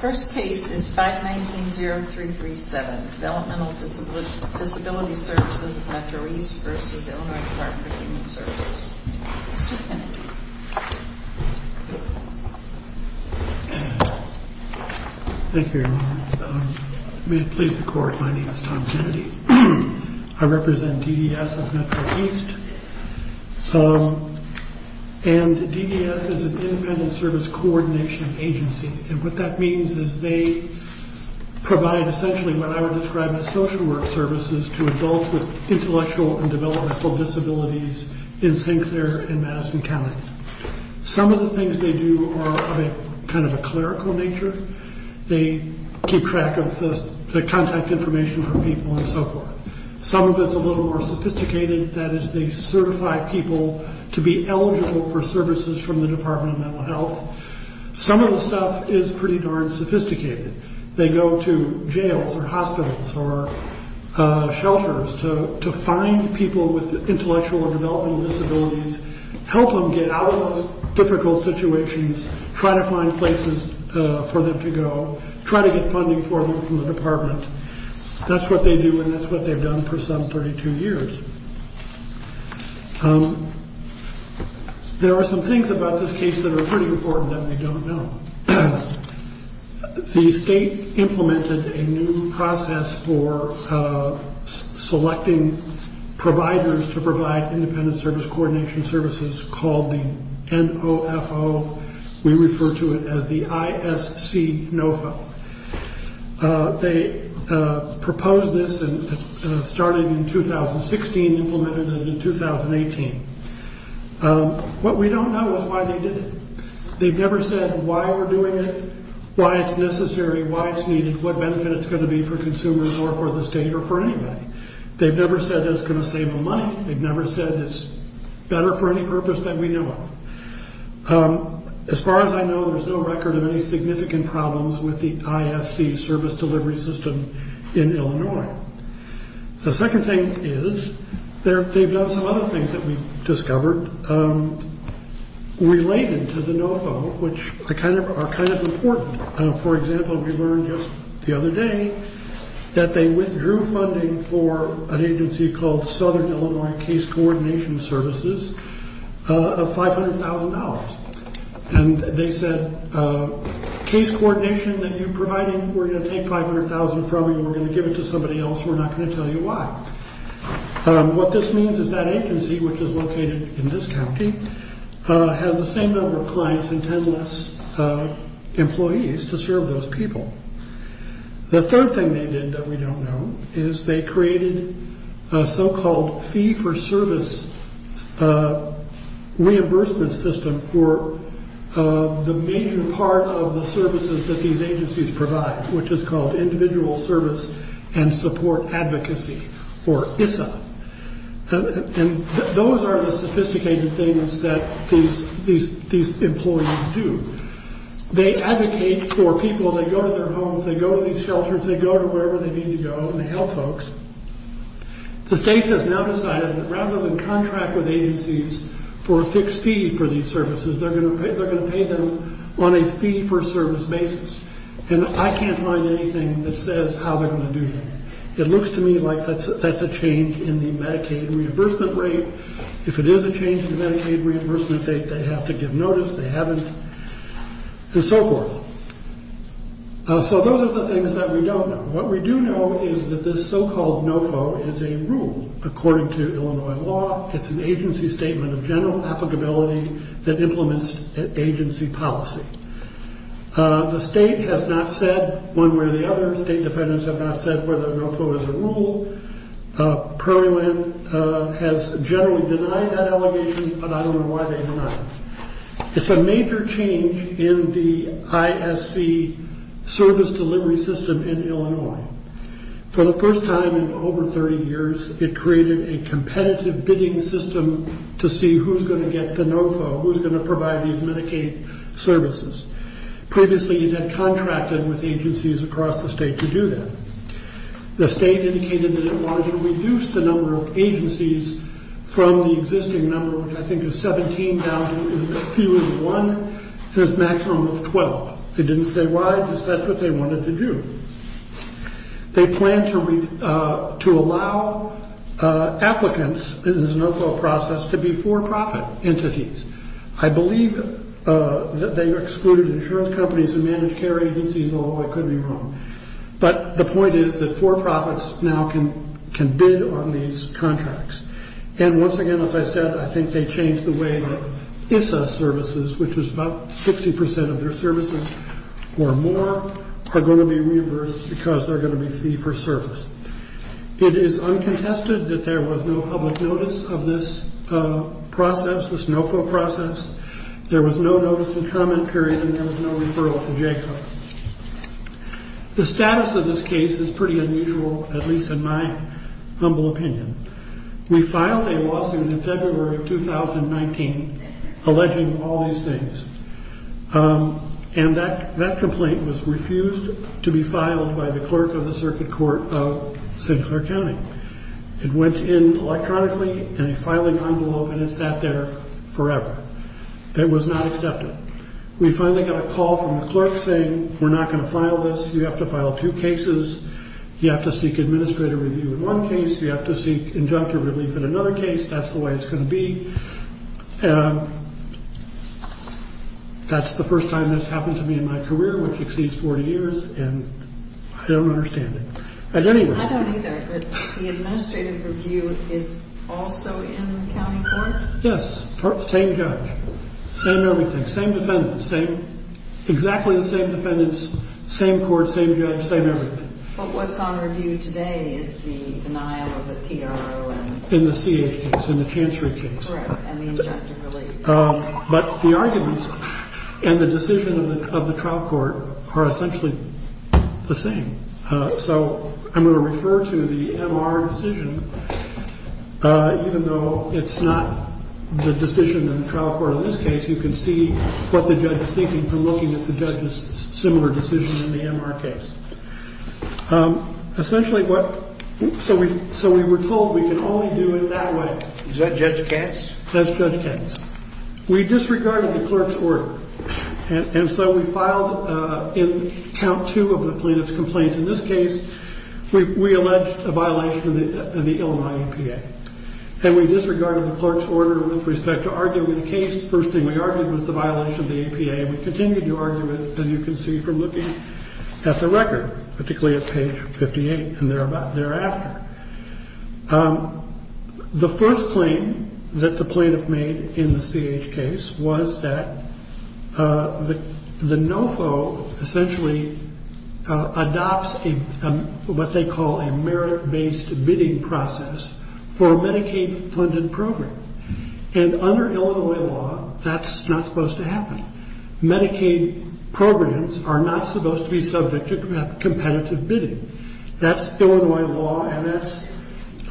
First case is 519-0337 Developmental Disability Services of Metro East v. Illinois Dept. of Human Services Mr. Kennedy Thank you, may it please the court, my name is Tom Kennedy I represent DDS of Metro East and DDS is an independent service coordination agency and what that means is they provide essentially what I would describe as social work services to adults with intellectual and developmental disabilities in St. Clair and Madison County Some of the things they do are kind of a clerical nature they keep track of the contact information for people and so forth Some of it is a little more sophisticated, that is they certify people to be eligible for services from the Department of Mental Health Some of the stuff is pretty darn sophisticated They go to jails or hospitals or shelters to find people with intellectual and developmental disabilities help them get out of those difficult situations, try to find places for them to go try to get funding for them from the department That's what they do and that's what they've done for some 32 years There are some things about this case that are pretty important that we don't know The state implemented a new process for selecting providers to provide independent service coordination services called the NOFO, we refer to it as the ISC NOFO They proposed this and started in 2016 and implemented it in 2018 What we don't know is why they did it They've never said why we're doing it, why it's necessary, why it's needed what benefit it's going to be for consumers or for the state or for anybody They've never said it's going to save them money They've never said it's better for any purpose than we know of As far as I know, there's no record of any significant problems with the ISC service delivery system in Illinois The second thing is, they've done some other things that we've discovered related to the NOFO, which are kind of important For example, we learned just the other day that they withdrew funding for an agency called Southern Illinois Case Coordination Services of $500,000 They said, case coordination that you're providing, we're going to take $500,000 from you we're going to give it to somebody else, we're not going to tell you why What this means is that agency, which is located in this county has the same number of clients and ten less employees to serve those people The third thing they did that we don't know is they created a so-called fee-for-service reimbursement system for the major part of the services that these agencies provide which is called Individual Service and Support Advocacy, or ISSA Those are the sophisticated things that these employees do They advocate for people, they go to their homes, they go to these shelters, they go to wherever they need to go and they help folks The state has now decided that rather than contract with agencies for a fixed fee for these services they're going to pay them on a fee-for-service basis and I can't find anything that says how they're going to do that It looks to me like that's a change in the Medicaid reimbursement rate If it is a change in the Medicaid reimbursement rate, they have to give notice, they haven't, and so forth So those are the things that we don't know What we do know is that this so-called NOFO is a rule According to Illinois law, it's an agency statement of general applicability that implements agency policy The state has not said one way or the other State defendants have not said whether NOFO is a rule The state has generally denied that allegation, but I don't know why they denied it It's a major change in the ISC service delivery system in Illinois For the first time in over 30 years, it created a competitive bidding system to see who's going to get the NOFO, who's going to provide these Medicaid services Previously it had contracted with agencies across the state to do that The state indicated that it wanted to reduce the number of agencies from the existing number which I think is 17,000, fewer than one, to a maximum of 12 They didn't say why, because that's what they wanted to do They plan to allow applicants in this NOFO process to be for-profit entities I believe that they excluded insurance companies and managed care agencies, although I could be wrong But the point is that for-profits now can bid on these contracts And once again, as I said, I think they changed the way that ISSA services, which is about 60% of their services or more, are going to be reimbursed because they're going to be fee-for-service It is uncontested that there was no public notice of this process, this NOFO process There was no notice and comment period, and there was no referral to JCO The status of this case is pretty unusual, at least in my humble opinion We filed a lawsuit in February of 2019 alleging all these things And that complaint was refused to be filed by the clerk of the circuit court of St. Clair County It went in electronically in a filing envelope and it sat there forever It was not accepted We finally got a call from the clerk saying we're not going to file this You have to file two cases You have to seek administrative review in one case You have to seek injunctive relief in another case That's the way it's going to be That's the first time this happened to me in my career, which exceeds 40 years And I don't understand it I don't either, but the administrative review is also in the county court? Yes, same judge, same everything, same defendant, same Exactly the same defendants, same court, same judge, same everything But what's on review today is the denial of the TRO and In the CH case, in the Chancery case Correct, and the injunctive relief But the arguments and the decision of the trial court are essentially the same So I'm going to refer to the MR decision Even though it's not the decision in the trial court in this case You can see what the judge is thinking from looking at the judge's similar decision in the MR case Essentially what, so we were told we can only do it that way Is that Judge Katz? That's Judge Katz We disregarded the clerk's order And so we filed in count two of the plaintiff's complaint In this case, we alleged a violation of the Illinois EPA And we disregarded the clerk's order with respect to arguing the case The first thing we argued was the violation of the EPA And we continued to argue it, and you can see from looking at the record Particularly at page 58 and thereafter The first claim that the plaintiff made in the CH case Was that the NOFO essentially adopts what they call a merit-based bidding process For a Medicaid-funded program And under Illinois law, that's not supposed to happen Medicaid programs are not supposed to be subject to competitive bidding That's Illinois law, and that's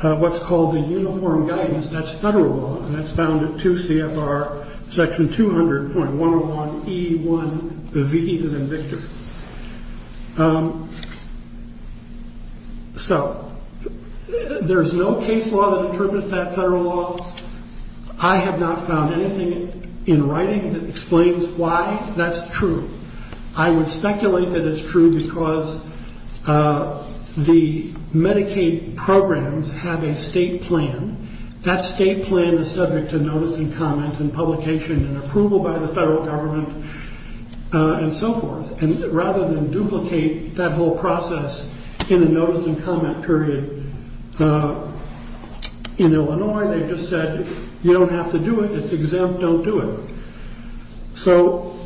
what's called the uniform guidance That's federal law, and that's found in 2 CFR section 200.101E1V as in Victor So, there's no case law that interprets that federal law I have not found anything in writing that explains why that's true I would speculate that it's true because the Medicaid programs have a state plan That state plan is subject to notice and comment and publication and approval by the federal government And so forth, and rather than duplicate that whole process in a notice and comment period In Illinois, they just said, you don't have to do it, it's exempt, don't do it So,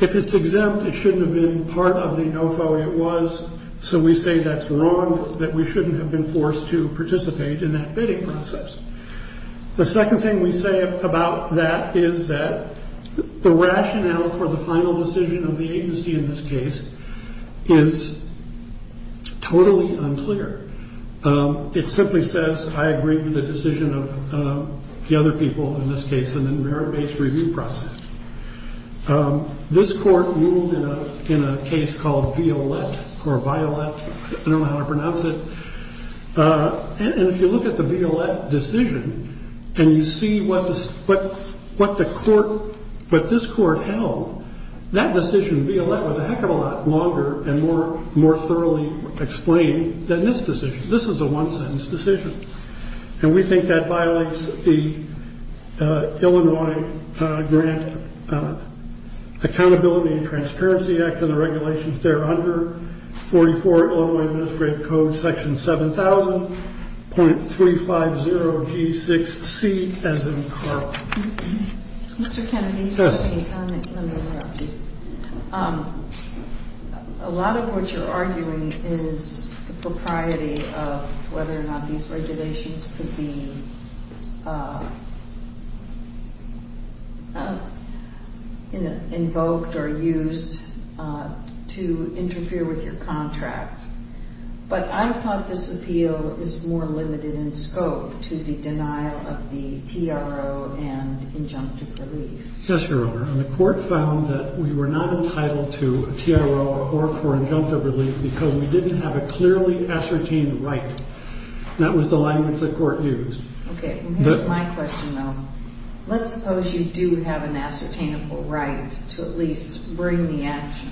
if it's exempt, it shouldn't have been part of the NOFO It was, so we say that's wrong, that we shouldn't have been forced to participate in that bidding process The second thing we say about that is that The rationale for the final decision of the agency in this case is totally unclear It simply says, I agree with the decision of the other people in this case This court ruled in a case called Violette I don't know how to pronounce it And if you look at the Violette decision, and you see what this court held That decision, Violette, was a heck of a lot longer and more thoroughly explained than this decision This is a one sentence decision And we think that violates the Illinois Grant Accountability and Transparency Act And the regulations there under 44 Illinois Administrative Code section 7000.350G6C as in Carl Mr. Kennedy Yes A lot of what you're arguing is the propriety of whether or not these regulations could be Invoked or used to interfere with your contract But I thought this appeal is more limited in scope to the denial of the TRO and injunctive relief Yes, Your Honor. And the court found that we were not entitled to a TRO or for injunctive relief Because we didn't have a clearly ascertained right That was the language the court used Okay. Here's my question, though Let's suppose you do have an ascertainable right to at least bring the action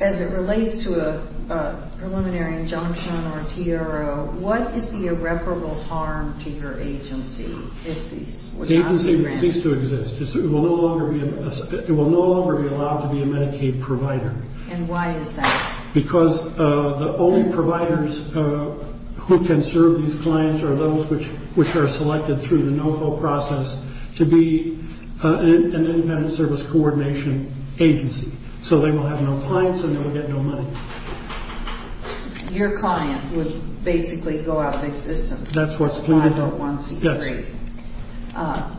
As it relates to a preliminary injunction or a TRO What is the irreparable harm to your agency if these were not to be granted? These two exist. It will no longer be allowed to be a Medicaid provider And why is that? Because the only providers who can serve these clients are those which are selected through the NOFO process To be an independent service coordination agency So they will have no clients and they will get no money Your client would basically go out of existence That's what's pleaded for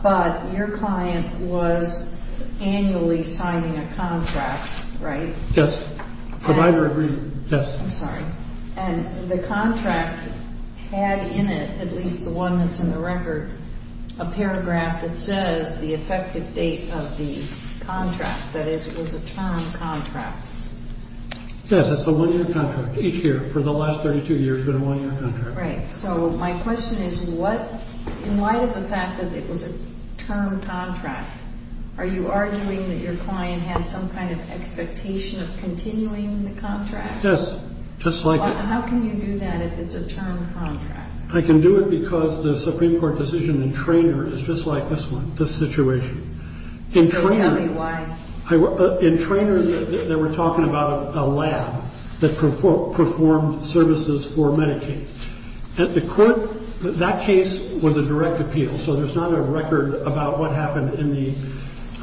But your client was annually signing a contract, right? Yes, provider agreement I'm sorry. And the contract had in it, at least the one that's in the record, a paragraph that says the effective date of the contract That is, it was a term contract Yes, that's a one-year contract Each year for the last 32 years has been a one-year contract Right. So my question is, in light of the fact that it was a term contract Are you arguing that your client had some kind of expectation of continuing the contract? Yes, just like that How can you do that if it's a term contract? I can do it because the Supreme Court decision in Treynor is just like this one, this situation Can you tell me why? In Treynor, they were talking about a lab that performed services for Medicaid At the court, that case was a direct appeal So there's not a record about what happened in the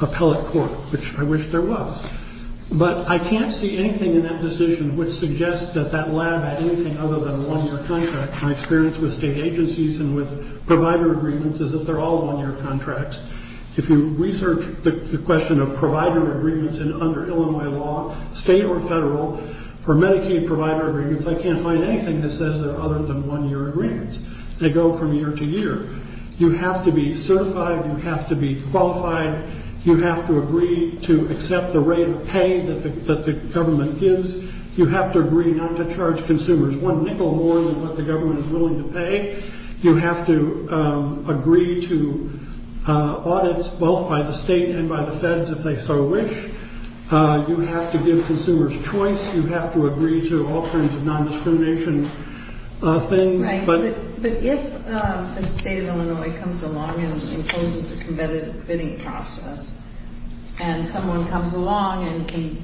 appellate court, which I wish there was But I can't see anything in that decision which suggests that that lab had anything other than one-year contracts My experience with state agencies and with provider agreements is that they're all one-year contracts If you research the question of provider agreements under Illinois law, state or federal For Medicaid provider agreements, I can't find anything that says they're other than one-year agreements They go from year to year You have to be certified, you have to be qualified You have to agree to accept the rate of pay that the government gives You have to agree not to charge consumers one nickel more than what the government is willing to pay You have to agree to audits both by the state and by the feds if they so wish You have to give consumers choice You have to agree to all kinds of non-discrimination things But if the state of Illinois comes along and imposes a competitive bidding process And someone comes along and can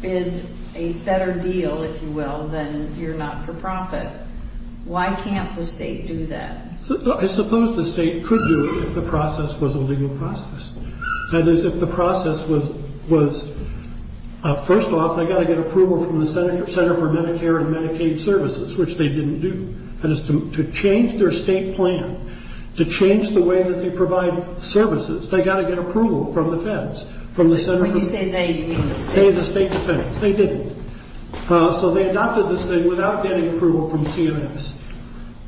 bid a better deal, if you will, than you're not-for-profit Why can't the state do that? I suppose the state could do it if the process was a legal process That is, if the process was- First off, they've got to get approval from the Center for Medicare and Medicaid Services, which they didn't do That is, to change their state plan, to change the way that they provide services They've got to get approval from the feds When you say they, you mean the state? The state defense They didn't So they adopted this thing without getting approval from CMS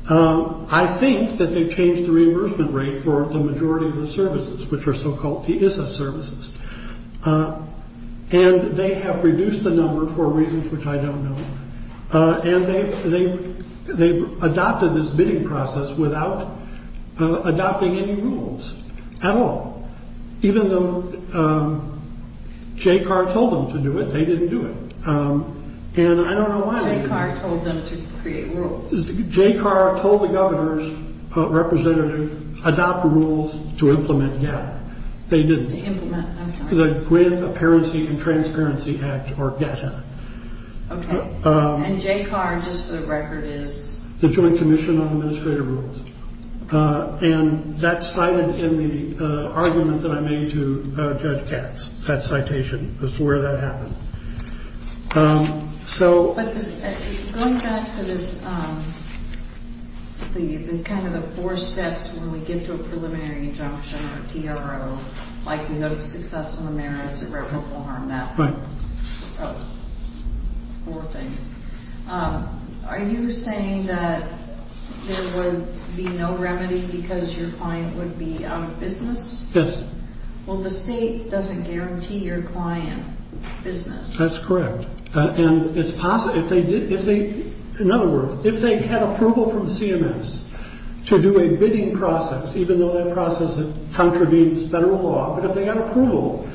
I think that they've changed the reimbursement rate for the majority of the services, which are so-called TISA services And they have reduced the number for reasons which I don't know And they've adopted this bidding process without adopting any rules at all Even though JCAR told them to do it, they didn't do it And I don't know why- JCAR told them to create rules JCAR told the governor's representative, adopt rules to implement GATT They didn't To implement, I'm sorry The Grant Apparency and Transparency Act, or GATT Act Okay, and JCAR, just for the record, is- The Joint Commission on Administrative Rules And that's cited in the argument that I made to Judge Katz That citation, as to where that happened So- Going back to this, kind of the four steps when we get to a preliminary injunction, or TRO Like, you know, successful merits, irreparable harm, that- Right Oh, four things Are you saying that there would be no remedy because your client would be out of business? Yes Well, the state doesn't guarantee your client business That's correct And it's possi- If they did- In other words, if they had approval from CMS to do a bidding process Even though that process contravenes federal law But if they got approval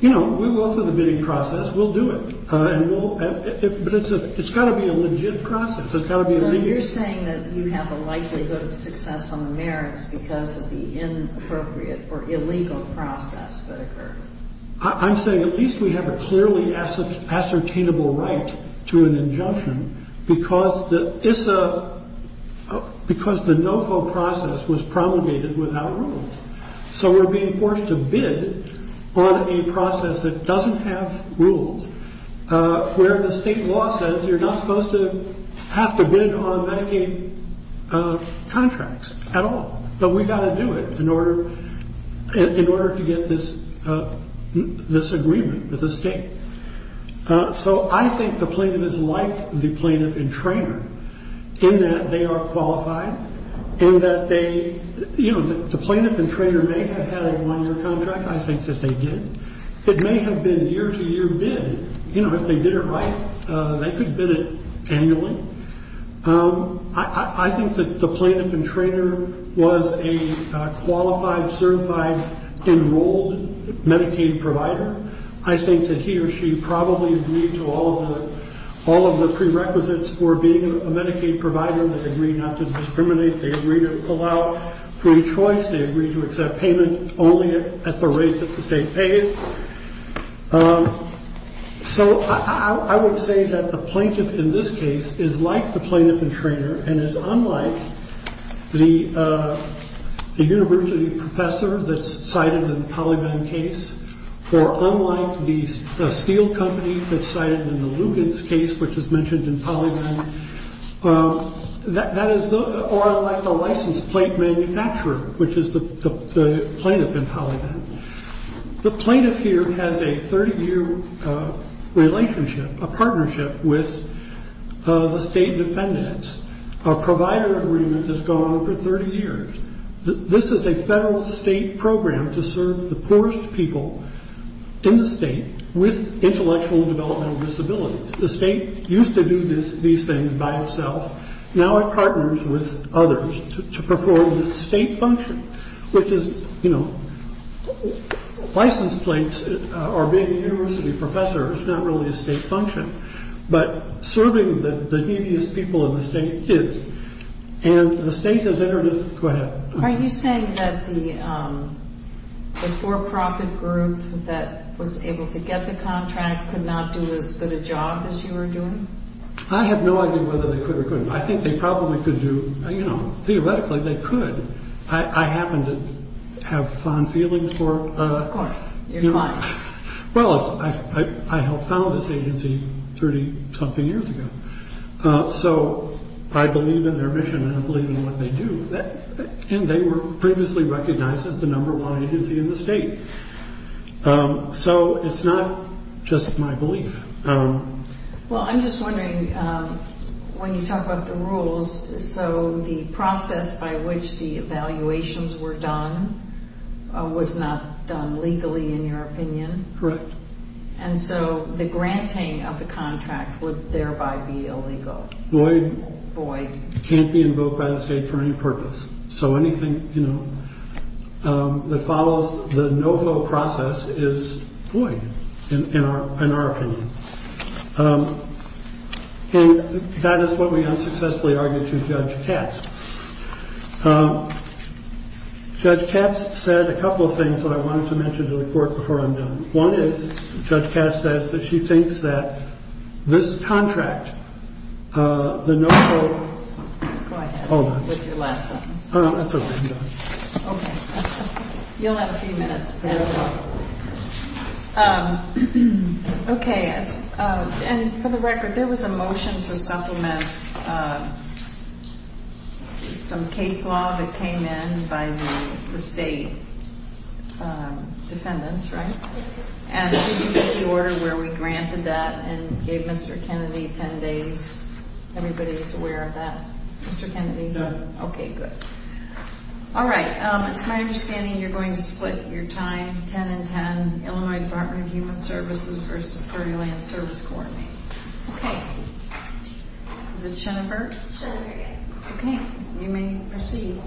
You know, we'll go through the bidding process, we'll do it And we'll- But it's got to be a legit process, it's got to be a legit- So you're saying that you have a likelihood of success on the merits Because of the inappropriate or illegal process that occurred I'm saying at least we have a clearly ascertainable right to an injunction Because the ISSA- Because the NOFO process was promulgated without rules So we're being forced to bid on a process that doesn't have rules Where the state law says you're not supposed to have to bid on Medicaid contracts at all But we've got to do it in order to get this agreement with the state So I think the plaintiff is like the plaintiff and trainer In that they are qualified In that they- You know, the plaintiff and trainer may have had a one-year contract I think that they did It may have been year-to-year bid You know, if they did it right, they could bid it annually I think that the plaintiff and trainer was a qualified, certified, enrolled Medicaid provider I think that he or she probably agreed to all of the prerequisites for being a Medicaid provider They agreed not to discriminate, they agreed to allow free choice They agreed to accept payment only at the rate that the state pays So I would say that the plaintiff in this case is like the plaintiff and trainer And is unlike the university professor that's cited in the Polyvan case Or unlike the steel company that's cited in the Lugans case, which is mentioned in Polyvan Or like the licensed plate manufacturer, which is the plaintiff in Polyvan The plaintiff here has a 30-year relationship, a partnership with the state defendants A provider agreement has gone on for 30 years This is a federal state program to serve the poorest people in the state With intellectual and developmental disabilities The state used to do these things by itself Now it partners with others to perform the state function Which is, you know, license plates or being a university professor is not really a state function But serving the neediest people in the state is And the state has entered into Go ahead Are you saying that the for-profit group that was able to get the contract Could not do as good a job as you were doing? I have no idea whether they could or couldn't I think they probably could do, you know, theoretically they could I happen to have fond feelings for Of course, your clients Well, I helped found this agency 30-something years ago So I believe in their mission and I believe in what they do And they were previously recognized as the number one agency in the state So it's not just my belief Well, I'm just wondering, when you talk about the rules So the process by which the evaluations were done Was not done legally in your opinion Correct And so the granting of the contract would thereby be illegal Void Void It can't be invoked by the state for any purpose So anything, you know, that follows the no-vote process is void In our opinion And that is what we unsuccessfully argued to Judge Katz Judge Katz said a couple of things that I wanted to mention to the court before I'm done One is, Judge Katz says that she thinks that this contract, the no-vote Go ahead, with your last sentence Oh, that's okay Okay, you'll have a few minutes Okay, and for the record, there was a motion to supplement Some case law that came in by the state defendants, right? And did you make the order where we granted that and gave Mr. Kennedy 10 days? Everybody's aware of that? Mr. Kennedy? No Okay, good All right, it's my understanding you're going to split your time 10 and 10, Illinois Department of Human Services versus Ferryland Service Corps Okay, is it Schoenberg? Schoenberg, yes Okay, you may proceed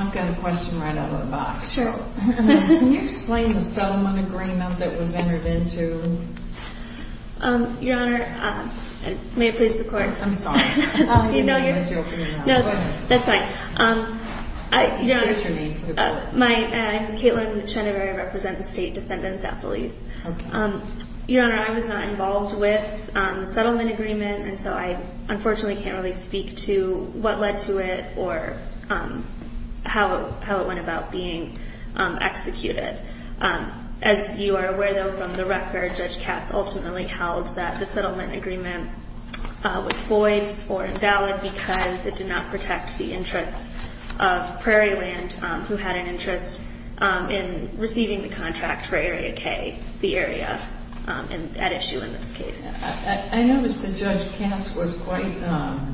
I've got a question right out of the box Sure Can you explain the settlement agreement that was entered into? Your Honor, may it please the court? I'm sorry, I don't know what you're talking about No, that's fine You state your name for the court I'm Kaitlin Schoenberg, I represent the state defendants at police Your Honor, I was not involved with the settlement agreement And so I unfortunately can't really speak to what led to it or how it went about being executed As you are aware, though, from the record, Judge Katz ultimately held that the settlement agreement was void or invalid because it did not protect the interests of Prairieland, who had an interest in receiving the contract for Area K, the area at issue in this case I noticed that Judge Katz was quite, how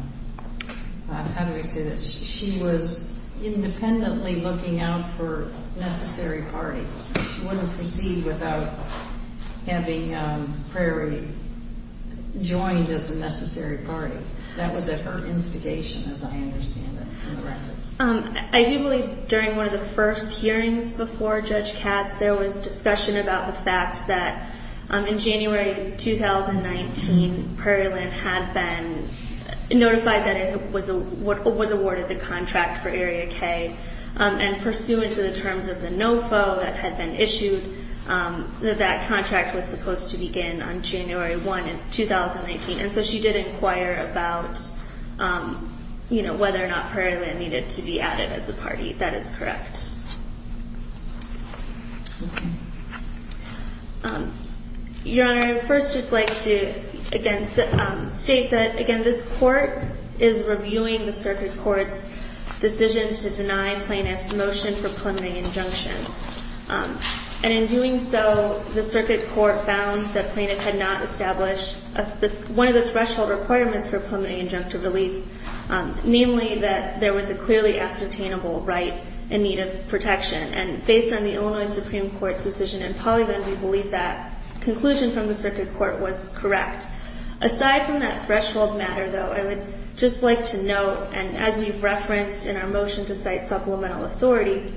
do I say this, she was independently looking out for necessary parties She wouldn't proceed without having Prairie joined as a necessary party That was at her instigation as I understand it from the record I do believe during one of the first hearings before Judge Katz there was discussion about the fact that in January 2019, Prairieland had been notified that it was awarded the contract for Area K and pursuant to the terms of the NOFO that had been issued, that that contract was supposed to begin on January 1, 2019 And so she did inquire about whether or not Prairieland needed to be added as a party. That is correct Your Honor, I would first just like to state that this Court is reviewing the Circuit Court's decision to deny Plaintiff's motion for preliminary injunction And in doing so, the Circuit Court found that Plaintiff had not established one of the threshold requirements for preliminary injunction relief Namely, that there was a clearly ascertainable right in need of protection And based on the Illinois Supreme Court's decision in Pollyvan, we believe that conclusion from the Circuit Court was correct Aside from that threshold matter though, I would just like to note, and as we've referenced in our motion to cite supplemental authority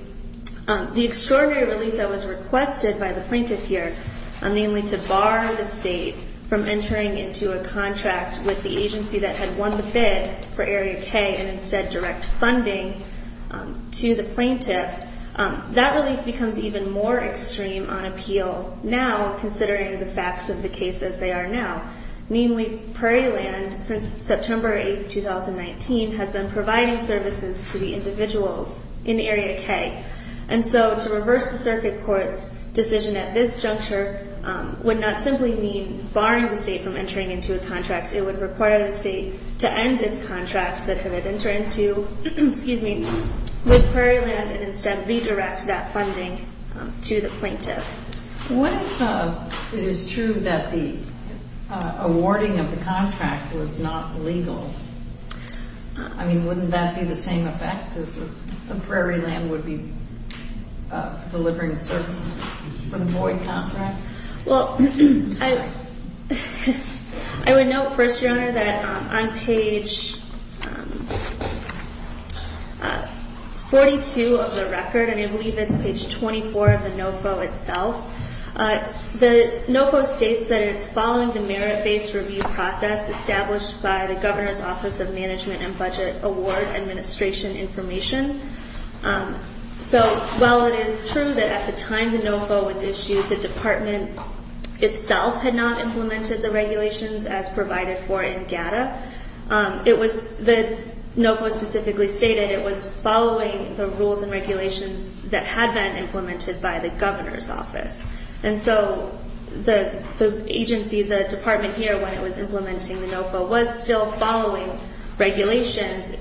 The extraordinary relief that was requested by the Plaintiff here, namely to bar the State from entering into a contract with the agency that had won the bid for Area K and instead direct funding to the Plaintiff That relief becomes even more extreme on appeal now, considering the facts of the case as they are now Namely, Prairieland, since September 8th, 2019, has been providing services to the individuals in Area K And so to reverse the Circuit Court's decision at this juncture would not simply mean barring the State from entering into a contract It would require the State to end its contracts that it had entered into with Prairieland and instead redirect that funding to the Plaintiff What if it is true that the awarding of the contract was not legal? I mean, wouldn't that be the same effect as if Prairieland would be delivering services from the void contract? Well, I would note, First Your Honor, that on page 42 of the record, and I believe it's page 24 of the NOFO itself The NOFO states that it is following the merit-based review process established by the Governor's Office of Management and Budget Award Administration Information So while it is true that at the time the NOFO was issued, the Department itself had not implemented the regulations as provided for in GATA The NOFO specifically stated it was following the rules and regulations that had been implemented by the Governor's Office And so the agency, the Department here when it was implementing the NOFO was still following regulations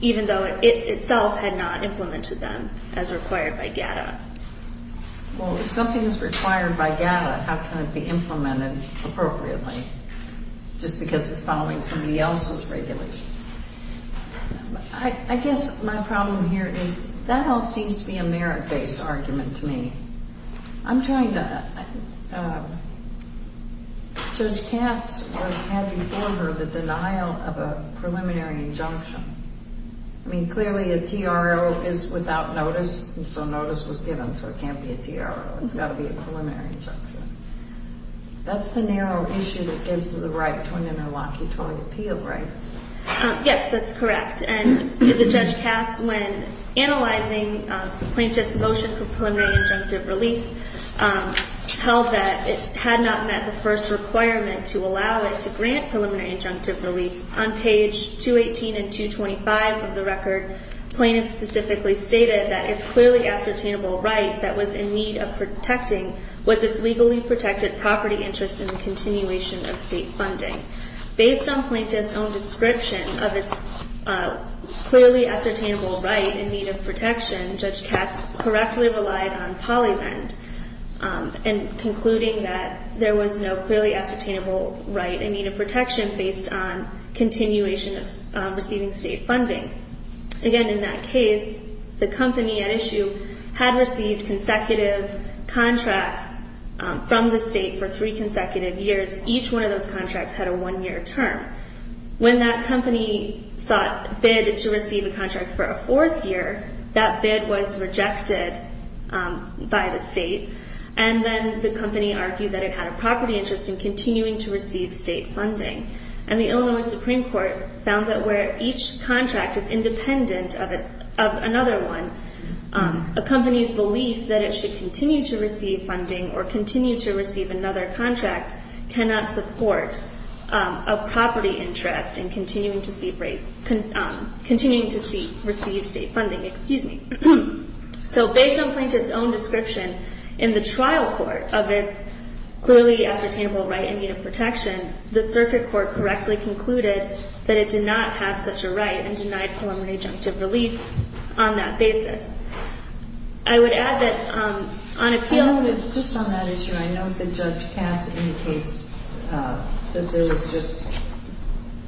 even though it itself had not implemented them as required by GATA Well, if something is required by GATA, how can it be implemented appropriately just because it's following somebody else's regulations? I guess my problem here is that all seems to be a merit-based argument to me Judge Katz was having for her the denial of a preliminary injunction I mean, clearly a TRO is without notice, so notice was given, so it can't be a TRO, it's got to be a preliminary injunction That's the narrow issue that gives the right to an interlocutory appeal, right? Yes, that's correct, and the Judge Katz when analyzing Plaintiff's motion for preliminary injunctive relief held that it had not met the first requirement to allow it to grant preliminary injunctive relief On page 218 and 225 of the record, Plaintiff specifically stated that its clearly ascertainable right that was in need of protecting was its legally protected property interest in the continuation of state funding Based on Plaintiff's own description of its clearly ascertainable right in need of protection, Judge Katz correctly relied on PolyVent in concluding that there was no clearly ascertainable right in need of protection based on continuation of receiving state funding Again, in that case, the company at issue had received consecutive contracts from the state for three consecutive years Each one of those contracts had a one-year term When that company sought bid to receive a contract for a fourth year, that bid was rejected by the state and then the company argued that it had a property interest in continuing to receive state funding and the Illinois Supreme Court found that where each contract is independent of another one a company's belief that it should continue to receive funding or continue to receive another contract cannot support a property interest in continuing to receive state funding So based on Plaintiff's own description in the trial court of its clearly ascertainable right in need of protection the circuit court correctly concluded that it did not have such a right and denied preliminary junctive relief on that basis I would add that on appeal... Just on that issue, I know that Judge Katz indicates that there was just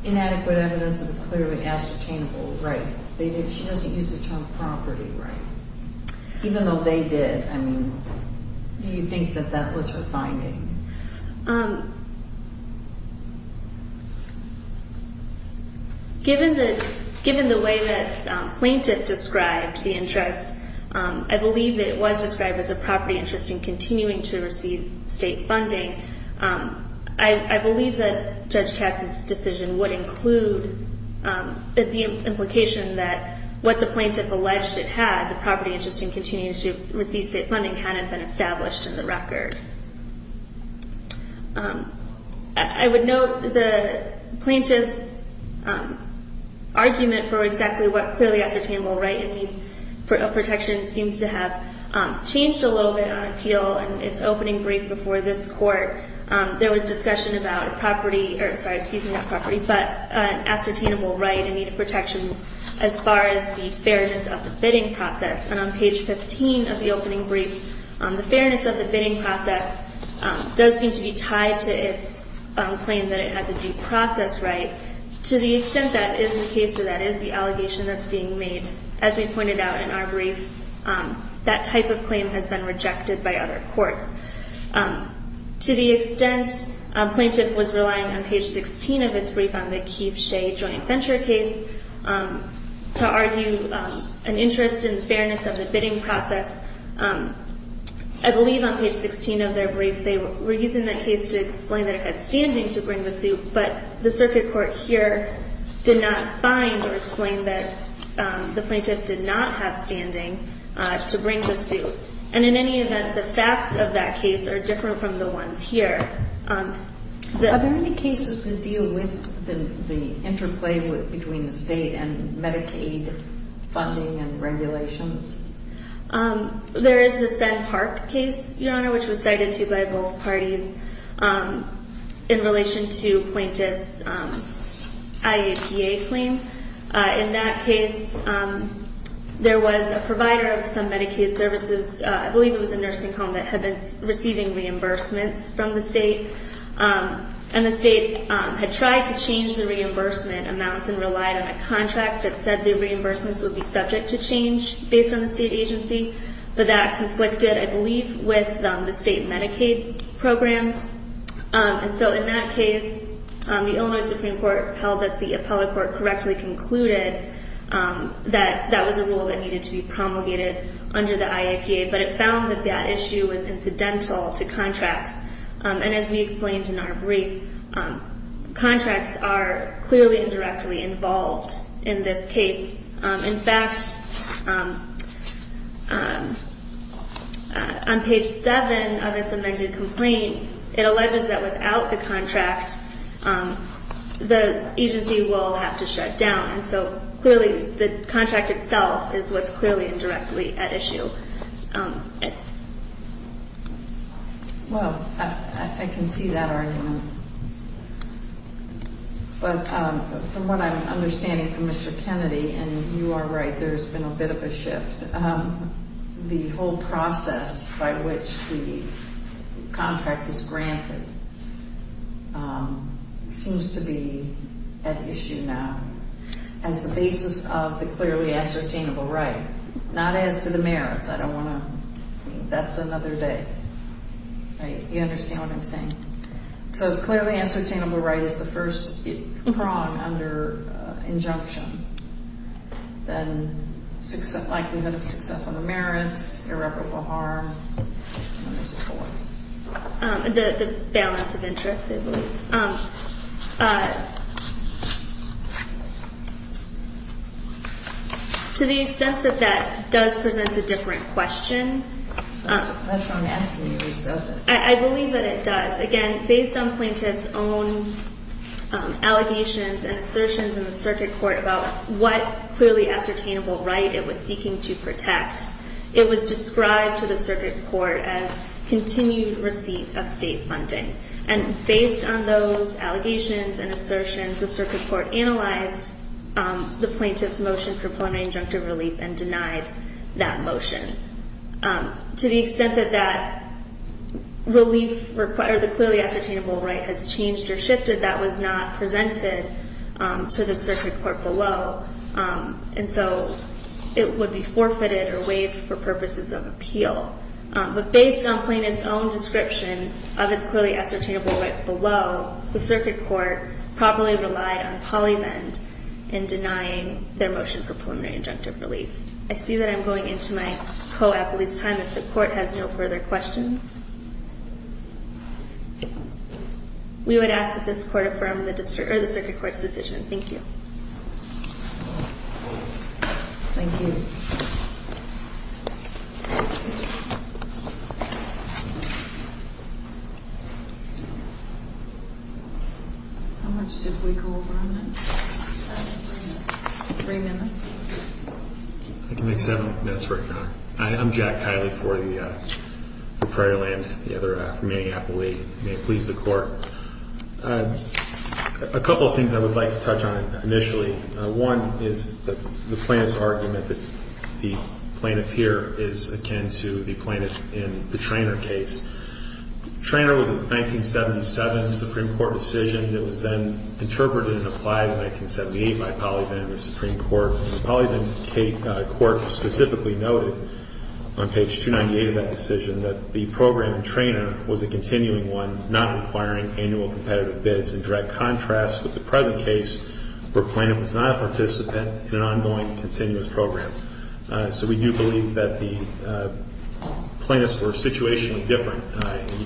inadequate evidence of a clearly ascertainable right She doesn't use the term property right Even though they did, I mean, do you think that that was her finding? Given the way that Plaintiff described the interest I believe that it was described as a property interest in continuing to receive state funding I believe that Judge Katz's decision would include the implication that what the Plaintiff alleged it had the property interest in continuing to receive state funding hadn't been established in the record I would note the Plaintiff's argument for exactly what clearly ascertainable right in need of protection seems to have changed a little bit on appeal In its opening brief before this court, there was discussion about property... Sorry, excuse me, not property, but ascertainable right in need of protection as far as the fairness of the bidding process And on page 15 of the opening brief, the fairness of the bidding process does seem to be tied to its claim that it has a due process right To the extent that is the case or that is the allegation that's being made As we pointed out in our brief, that type of claim has been rejected by other courts To the extent Plaintiff was relying on page 16 of its brief on the Keefe-Shea joint venture case To argue an interest in the fairness of the bidding process I believe on page 16 of their brief, they were using that case to explain that it had standing to bring the suit But the Circuit Court here did not find or explain that the Plaintiff did not have standing to bring the suit And in any event, the facts of that case are different from the ones here Are there any cases that deal with the interplay between the state and Medicaid funding and regulations? There is the Senn Park case, Your Honor, which was cited to by both parties In relation to Plaintiff's IEPA claim In that case, there was a provider of some Medicaid services I believe it was a nursing home that had been receiving reimbursements from the state And the state had tried to change the reimbursement amounts and relied on a contract That said the reimbursements would be subject to change based on the state agency But that conflicted, I believe, with the state Medicaid program And so in that case, the Illinois Supreme Court held that the appellate court correctly concluded That that was a rule that needed to be promulgated under the IEPA But it found that that issue was incidental to contracts And as we explained in our brief, contracts are clearly and directly involved in this case In fact, on page 7 of its amended complaint, it alleges that without the contract The agency will have to shut down And so clearly the contract itself is what's clearly and directly at issue Well, I can see that argument But from what I'm understanding from Mr. Kennedy, and you are right, there's been a bit of a shift The whole process by which the contract is granted seems to be at issue now As the basis of the clearly ascertainable right Not as to the merits, I don't want to, that's another day You understand what I'm saying? So clearly ascertainable right is the first prong under injunction Then likelihood of success on the merits, irreparable harm The balance of interest, I believe To the extent that that does present a different question That's what I'm asking you, does it? I believe that it does Again, based on plaintiff's own allegations and assertions in the circuit court About what clearly ascertainable right it was seeking to protect It was described to the circuit court as continued receipt of state funding And based on those allegations and assertions The circuit court analyzed the plaintiff's motion for plenary injunctive relief And denied that motion To the extent that the clearly ascertainable right has changed or shifted That was not presented to the circuit court below And so it would be forfeited or waived for purposes of appeal But based on plaintiff's own description of its clearly ascertainable right below The circuit court probably relied on Polybend In denying their motion for preliminary injunctive relief I see that I'm going into my co-applicant's time If the court has no further questions We would ask that this court affirm the circuit court's decision Thank you Thank you How much did we go over on that? Three minutes I can make seven minutes right now I'm Jack Kiley for the Prairieland The other from Minneapolis, may it please the court A couple of things I would like to touch on initially One is the plaintiff's argument that the plaintiff here Is akin to the plaintiff in the Treanor case Treanor was a 1977 Supreme Court decision That was then interpreted and applied in 1978 by Polybend And the Supreme Court specifically noted on page 298 of that decision That the program in Treanor was a continuing one Not requiring annual competitive bids In direct contrast with the present case Where plaintiff was not a participant in an ongoing, continuous program So we do believe that the plaintiffs were situationally different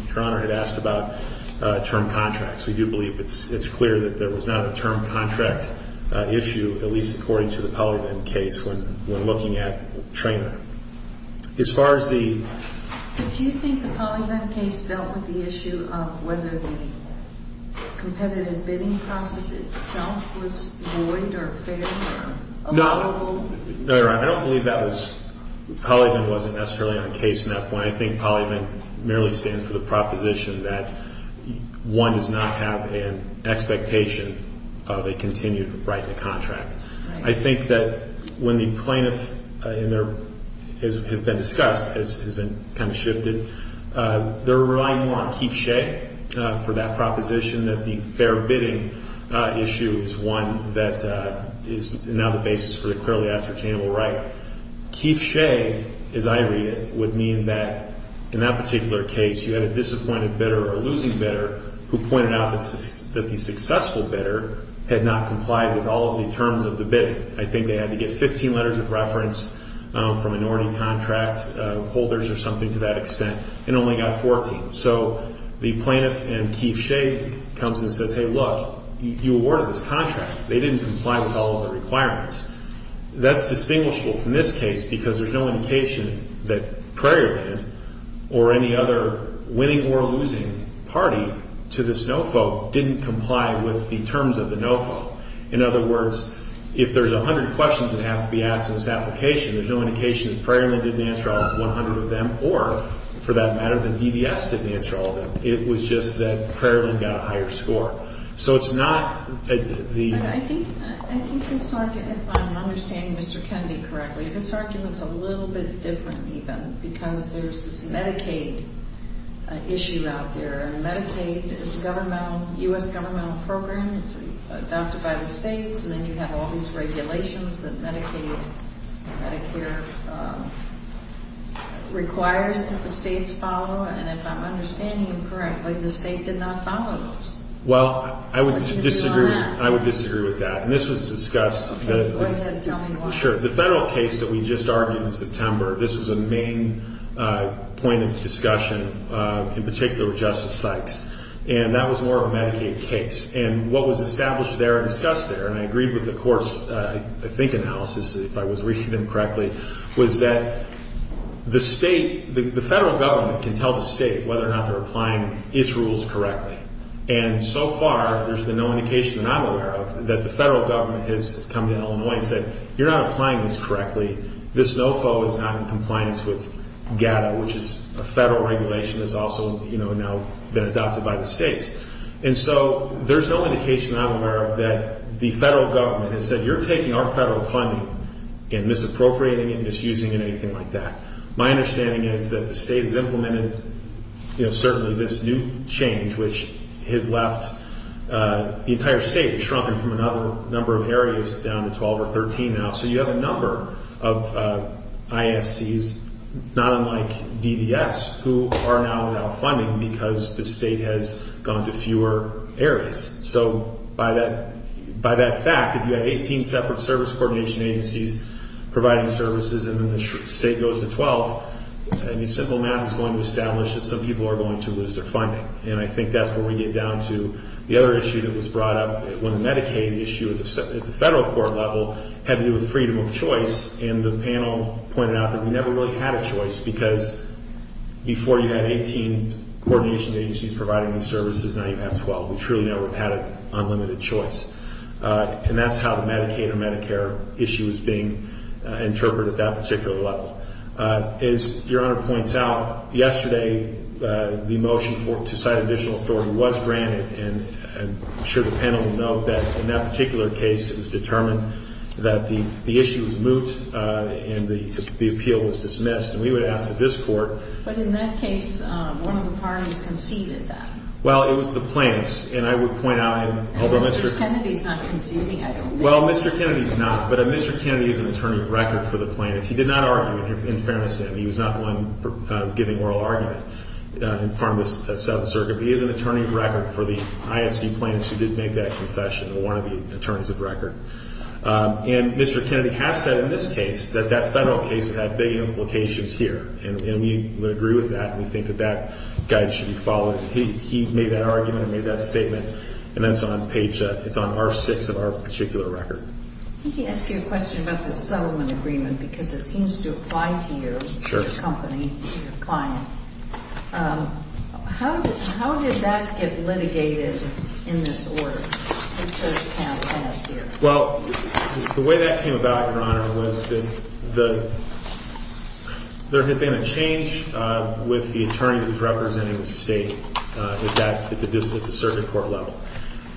Your Honor had asked about term contracts We do believe it's clear that there was not a term contract issue At least according to the Polybend case when looking at Treanor As far as the... Do you think the Polybend case dealt with the issue of Whether the competitive bidding process itself was void or fair? No, Your Honor, I don't believe that was... Polybend wasn't necessarily on case in that point I think Polybend merely stands for the proposition that One does not have an expectation of a continued right to contract I think that when the plaintiff, and there has been discussed Has been kind of shifted They're relying more on Keefe Shea for that proposition That the fair bidding issue is one that is now the basis For the clearly ascertainable right Keefe Shea, as I read it, would mean that In that particular case you had a disappointed bidder or a losing bidder Who pointed out that the successful bidder Had not complied with all of the terms of the bidding I think they had to get 15 letters of reference From minority contract holders or something to that extent And only got 14 So the plaintiff and Keefe Shea comes and says Hey look, you awarded this contract They didn't comply with all of the requirements That's distinguishable from this case Because there's no indication that Prairie Band Or any other winning or losing party to this no vote Didn't comply with the terms of the no vote In other words, if there's 100 questions That have to be asked in this application There's no indication that Prairie Land didn't answer all 100 of them Or for that matter that DDS didn't answer all of them It was just that Prairie Land got a higher score So it's not the... I think this argument, if I'm understanding Mr. Kennedy correctly This argument's a little bit different even Because there's this Medicaid issue out there Medicaid is a U.S. governmental program It's adopted by the states And then you have all these regulations That Medicaid, Medicare requires that the states follow And if I'm understanding you correctly The state did not follow those Well, I would disagree with that And this was discussed Go ahead, tell me why Sure, the federal case that we just argued in September This was a main point of discussion In particular with Justice Sykes And that was more of a Medicaid case And what was established there and discussed there And I agreed with the court's, I think, analysis If I was reading them correctly Was that the state... The federal government can tell the state Whether or not they're applying its rules correctly And so far, there's been no indication that I'm aware of That the federal government has come to Illinois And said, you're not applying this correctly This no vote is not in compliance with GATA Which is a federal regulation That's also now been adopted by the states And so there's no indication I'm aware of That the federal government has said You're taking our federal funding And misappropriating it, misusing it, anything like that My understanding is that the state has implemented Certainly this new change Which has left the entire state Shrunking from another number of areas Down to 12 or 13 now So you have a number of ISCs Not unlike DDS Who are now without funding Because the state has gone to fewer areas So by that fact If you have 18 separate service coordination agencies Providing services And then the state goes to 12 I mean, simple math is going to establish That some people are going to lose their funding And I think that's where we get down to The other issue that was brought up When Medicaid issue at the federal court level Had to do with freedom of choice And the panel pointed out That we never really had a choice Because before you had 18 coordination agencies Providing these services Now you have 12 We truly never had an unlimited choice And that's how the Medicaid or Medicare issue Is being interpreted at that particular level As your honor points out Yesterday The motion to cite additional authority Was granted And I'm sure the panel will note That in that particular case It was determined that the issue was moot And the appeal was dismissed And we would ask that this court But in that case One of the parties conceded that Well, it was the plaintiffs And I would point out And Mr. Kennedy is not conceding Well, Mr. Kennedy is not But Mr. Kennedy is an attorney of record for the plaintiffs He did not argue in fairness to him He was not the one giving oral argument From the South Circuit But he is an attorney of record for the ISD plaintiffs Who did make that concession And one of the attorneys of record And Mr. Kennedy has said in this case That that federal case had big implications here And we would agree with that And we think that that guide should be followed He made that argument And made that statement And that's on page, it's on R6 of our particular record Let me ask you a question About the settlement agreement Because it seems to apply to your company Your client How did that get litigated In this order Well, the way that came about, Your Honor Was that There had been a change With the attorney Who was representing the state At the circuit court level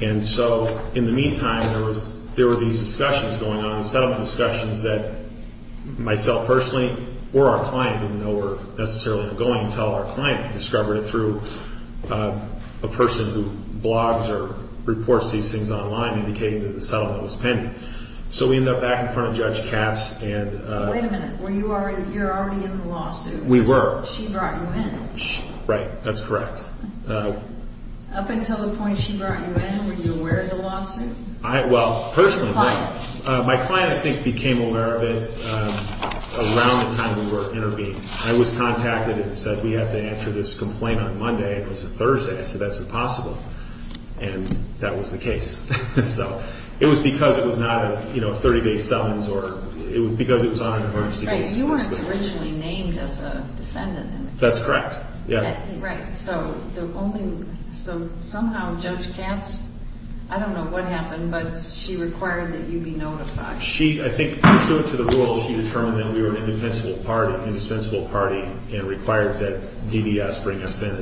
And so in the meantime There were these discussions going on Settlement discussions that Myself personally or our client Didn't know were necessarily going Until our client discovered it through A person who Blogs or reports these things online Indicating that the settlement was pending So we ended up back in front of Judge Cass Wait a minute You're already in the lawsuit We were She brought you in Right, that's correct Up until the point she brought you in Were you aware of the lawsuit My client I think became aware of it Around the time we were intervening I was contacted and said We have to answer this complaint on Monday It was a Thursday, I said that's impossible And that was the case So it was because it was not A 30 day settlement It was because it was on an emergency basis You weren't originally named as a defendant That's correct Right, so Somehow Judge Cass I don't know what happened But she required that you be notified I think pursuant to the rules She determined that we were an indispensable party And required that DDS bring us in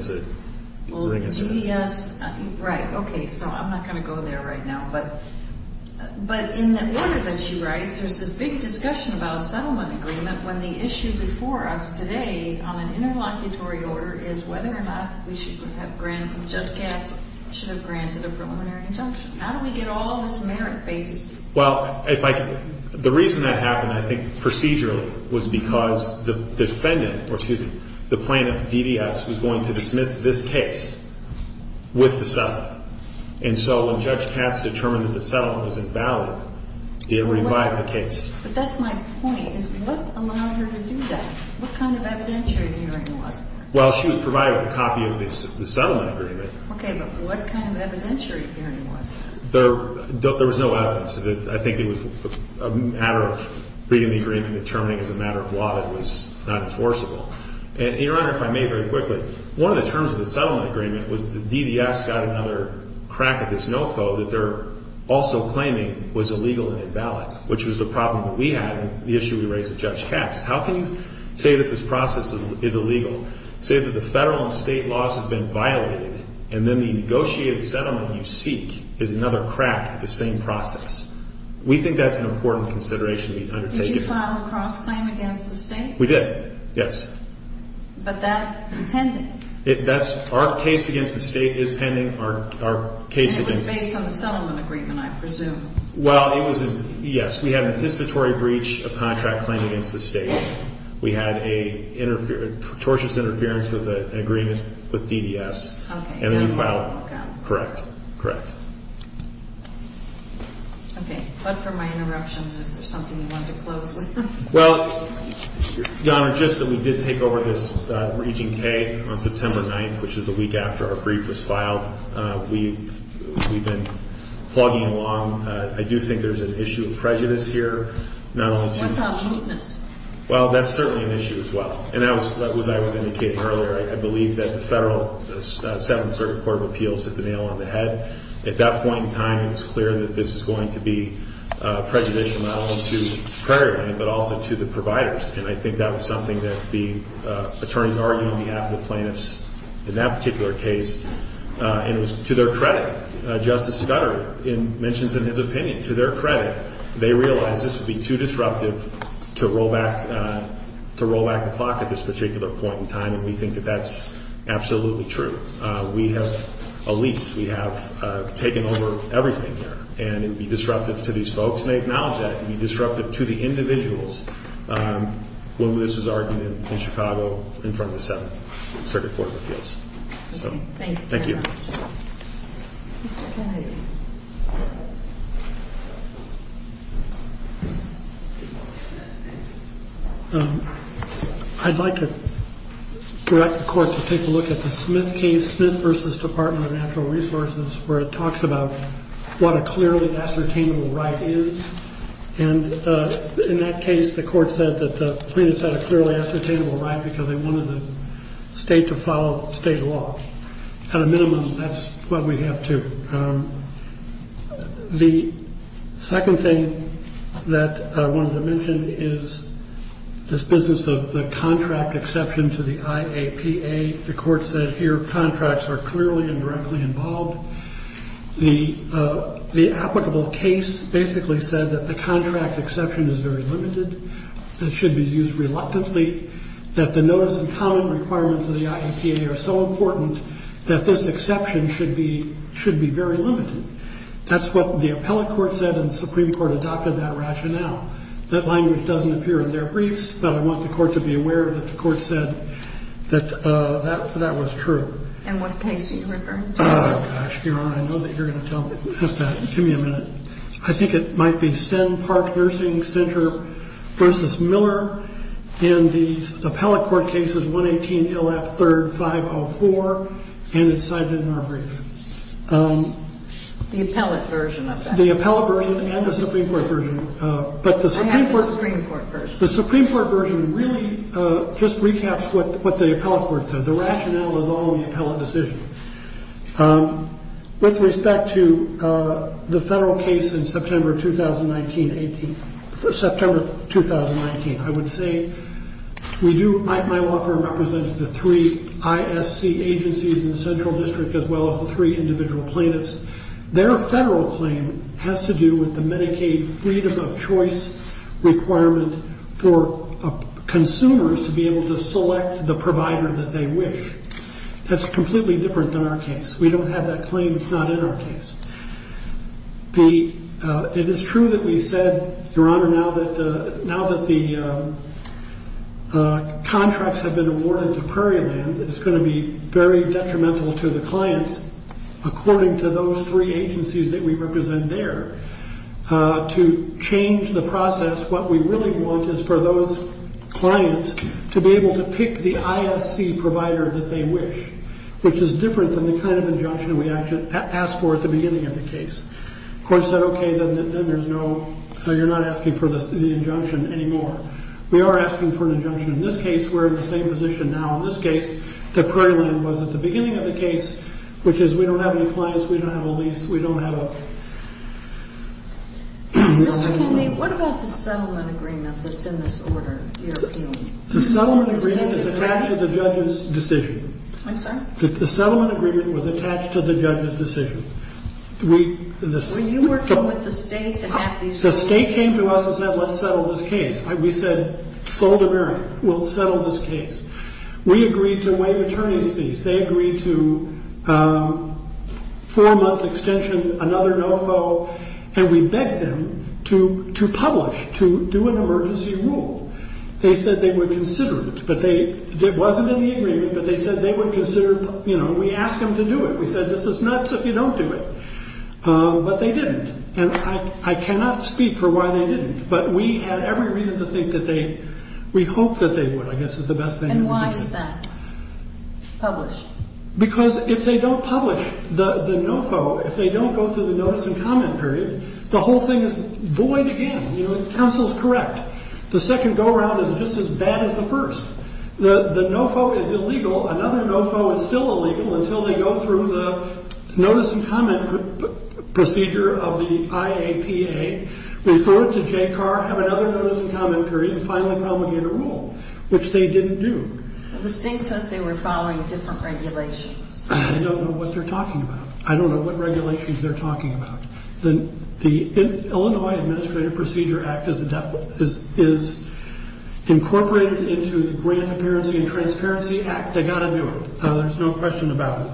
Well, DDS Right, okay So I'm not going to go there right now But in the order that she writes There's this big discussion about a settlement agreement When the issue before us today On an interlocutory order Is whether or not we should have Granted Judge Cass Should have granted a preliminary injunction How do we get all of this merit based Well, the reason that happened I think procedurally Was because the defendant Or excuse me, the plaintiff, DDS Was going to dismiss this case With the settlement And so when Judge Cass determined That the settlement was invalid It revived the case But that's my point, is what allowed her to do that? What kind of evidentiary hearing was that? Well, she was provided a copy Of the settlement agreement Okay, but what kind of evidentiary hearing was that? There was no evidence I think it was a matter Of reading the agreement and determining As a matter of law that it was not enforceable And your honor, if I may very quickly One of the terms of the settlement agreement Was that DDS got another crack At this NOFO that they're also Claiming was illegal and invalid Which was the problem that we had And the issue we raised with Judge Cass How can you say that this process is illegal Say that the federal and state laws Have been violated And then the negotiated settlement you seek Is another crack at the same process We think that's an important consideration Did you file a cross-claim Against the state? We did, yes But that is pending Our case against the state Is pending And it was based on the settlement agreement, I presume Well, it was Yes, we had an anticipatory breach Of contract claim against the state We had a tortious Interference with an agreement With DDS And then we filed Correct, correct Okay, but for my interruptions Is there something you wanted to close with? Well, your honor Just that we did take over this Region K on September 9th Which is the week after our brief was filed We've been Plugging along I do think there's an issue of prejudice here What about mootness? Well, that's certainly an issue as well And as I was indicating earlier I believe that the federal 7th Circuit Court of Appeals hit the nail on the head At that point in time It was clear that this was going to be Prejudicial not only to Prairie Lane But also to the providers And I think that was something that the Attorneys argued on behalf of the plaintiffs In that particular case And it was to their credit Justice Scudder mentions in his opinion To their credit, they realized This would be too disruptive To roll back the clock At this particular point in time And we think that that's absolutely true We have a lease We have taken over everything here And it would be disruptive to these folks And they acknowledge that It would be disruptive to the individuals When this was argued in Chicago In front of the 7th Circuit Court of Appeals Thank you Mr. Kennedy Thank you I'd like to Direct the court to take a look at the Smith case Smith v. Department of Natural Resources Where it talks about What a clearly ascertainable right is And in that case The court said that the Plaintiffs had a clearly ascertainable right Because they wanted the state to follow State law At a minimum That's what we have too The second thing That I wanted to mention Is This business of the contract exception To the IAPA The court said here Contracts are clearly and directly involved The applicable case Basically said that the contract Exception is very limited It should be used reluctantly That the notice and comment requirements Of the IAPA are so important That this exception should be Should be very limited That's what the appellate court said And the Supreme Court adopted that rationale That language doesn't appear in their briefs But I want the court to be aware that the court said That that was true And what case do you refer to? Gosh Your Honor I know that you're going to tell me Give me a minute I think it might be Senn Park Nursing Center v. Miller And the appellate court case Is 118 Illap 3rd 504 And it's cited in our brief The appellate version of that The appellate version and the Supreme Court version I have the Supreme Court version The Supreme Court version really Just recaps what the appellate court said The rationale is all in the appellate decision With respect to The Federal case in September 2019 I would say My law firm represents The three ISC agencies In the central district As well as the three individual plaintiffs Their federal claim has to do with The Medicaid freedom of choice Requirement for Consumers to be able to select The provider that they wish That's completely different than our case We don't have that claim It's not in our case It is true that we said Your honor, now that The Contracts have been awarded to Prairieland It's going to be very detrimental To the clients According to those three agencies That we represent there To change the process What we really want is for those Clients to be able to pick The ISC provider that they wish Which is different than the kind Of injunction we asked for At the beginning of the case The court said okay You're not asking for the Injunction anymore We are asking for an injunction In this case we're in the same position now In this case the Prairieland was at the beginning of the case Which is we don't have any clients We don't have a lease We don't have a Mr. Kennedy, what about the settlement agreement That's in this order The settlement agreement is attached to the judge's Decision The settlement agreement was attached to the judge's Were you working with the state to have these The state came to us and said let's settle This case, we said Sold to Merrick, we'll settle this case We agreed to waive attorney's fees They agreed to Four month extension Another no-foe And we begged them to Publish, to do an emergency rule They said they would consider it But there wasn't any agreement But they said they would consider We asked them to do it, we said this is nuts If you don't do it But they didn't And I cannot speak for why they didn't But we had every reason to think that they We hoped that they would And why is that Publish Because if they don't publish the no-foe If they don't go through the notice and comment period The whole thing is void again The counsel is correct The second go around is just as bad as the first The no-foe is illegal Another no-foe is still illegal Until they go through the Notice and comment procedure Of the IAPA Refer it to JCAR Have another notice and comment period And finally promulgate a rule Which they didn't do The state says they were following different regulations I don't know what they're talking about I don't know what regulations they're talking about The Illinois Administrative Procedure Act Is Incorporated into The Grant Appearance and Transparency Act They've got to do it There's no question about it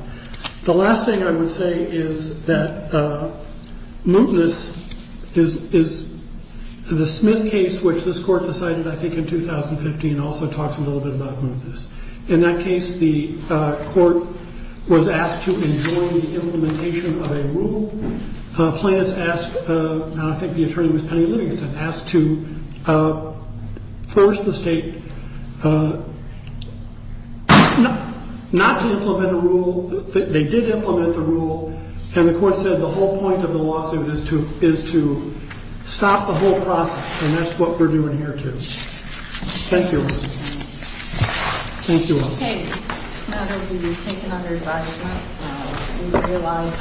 The last thing I would say is that Mootness Is the Smith case Which this court decided I think in 2015 Also talks a little bit about mootness In that case the Court was asked to Enjoin the implementation of a rule Plaintiffs asked I think the attorney was Penny Livingston Asked to First the state Not to implement a rule They did implement the rule And the court said the whole point of the lawsuit Is to Stop the whole process And that's what we're doing here too Thank you Thank you all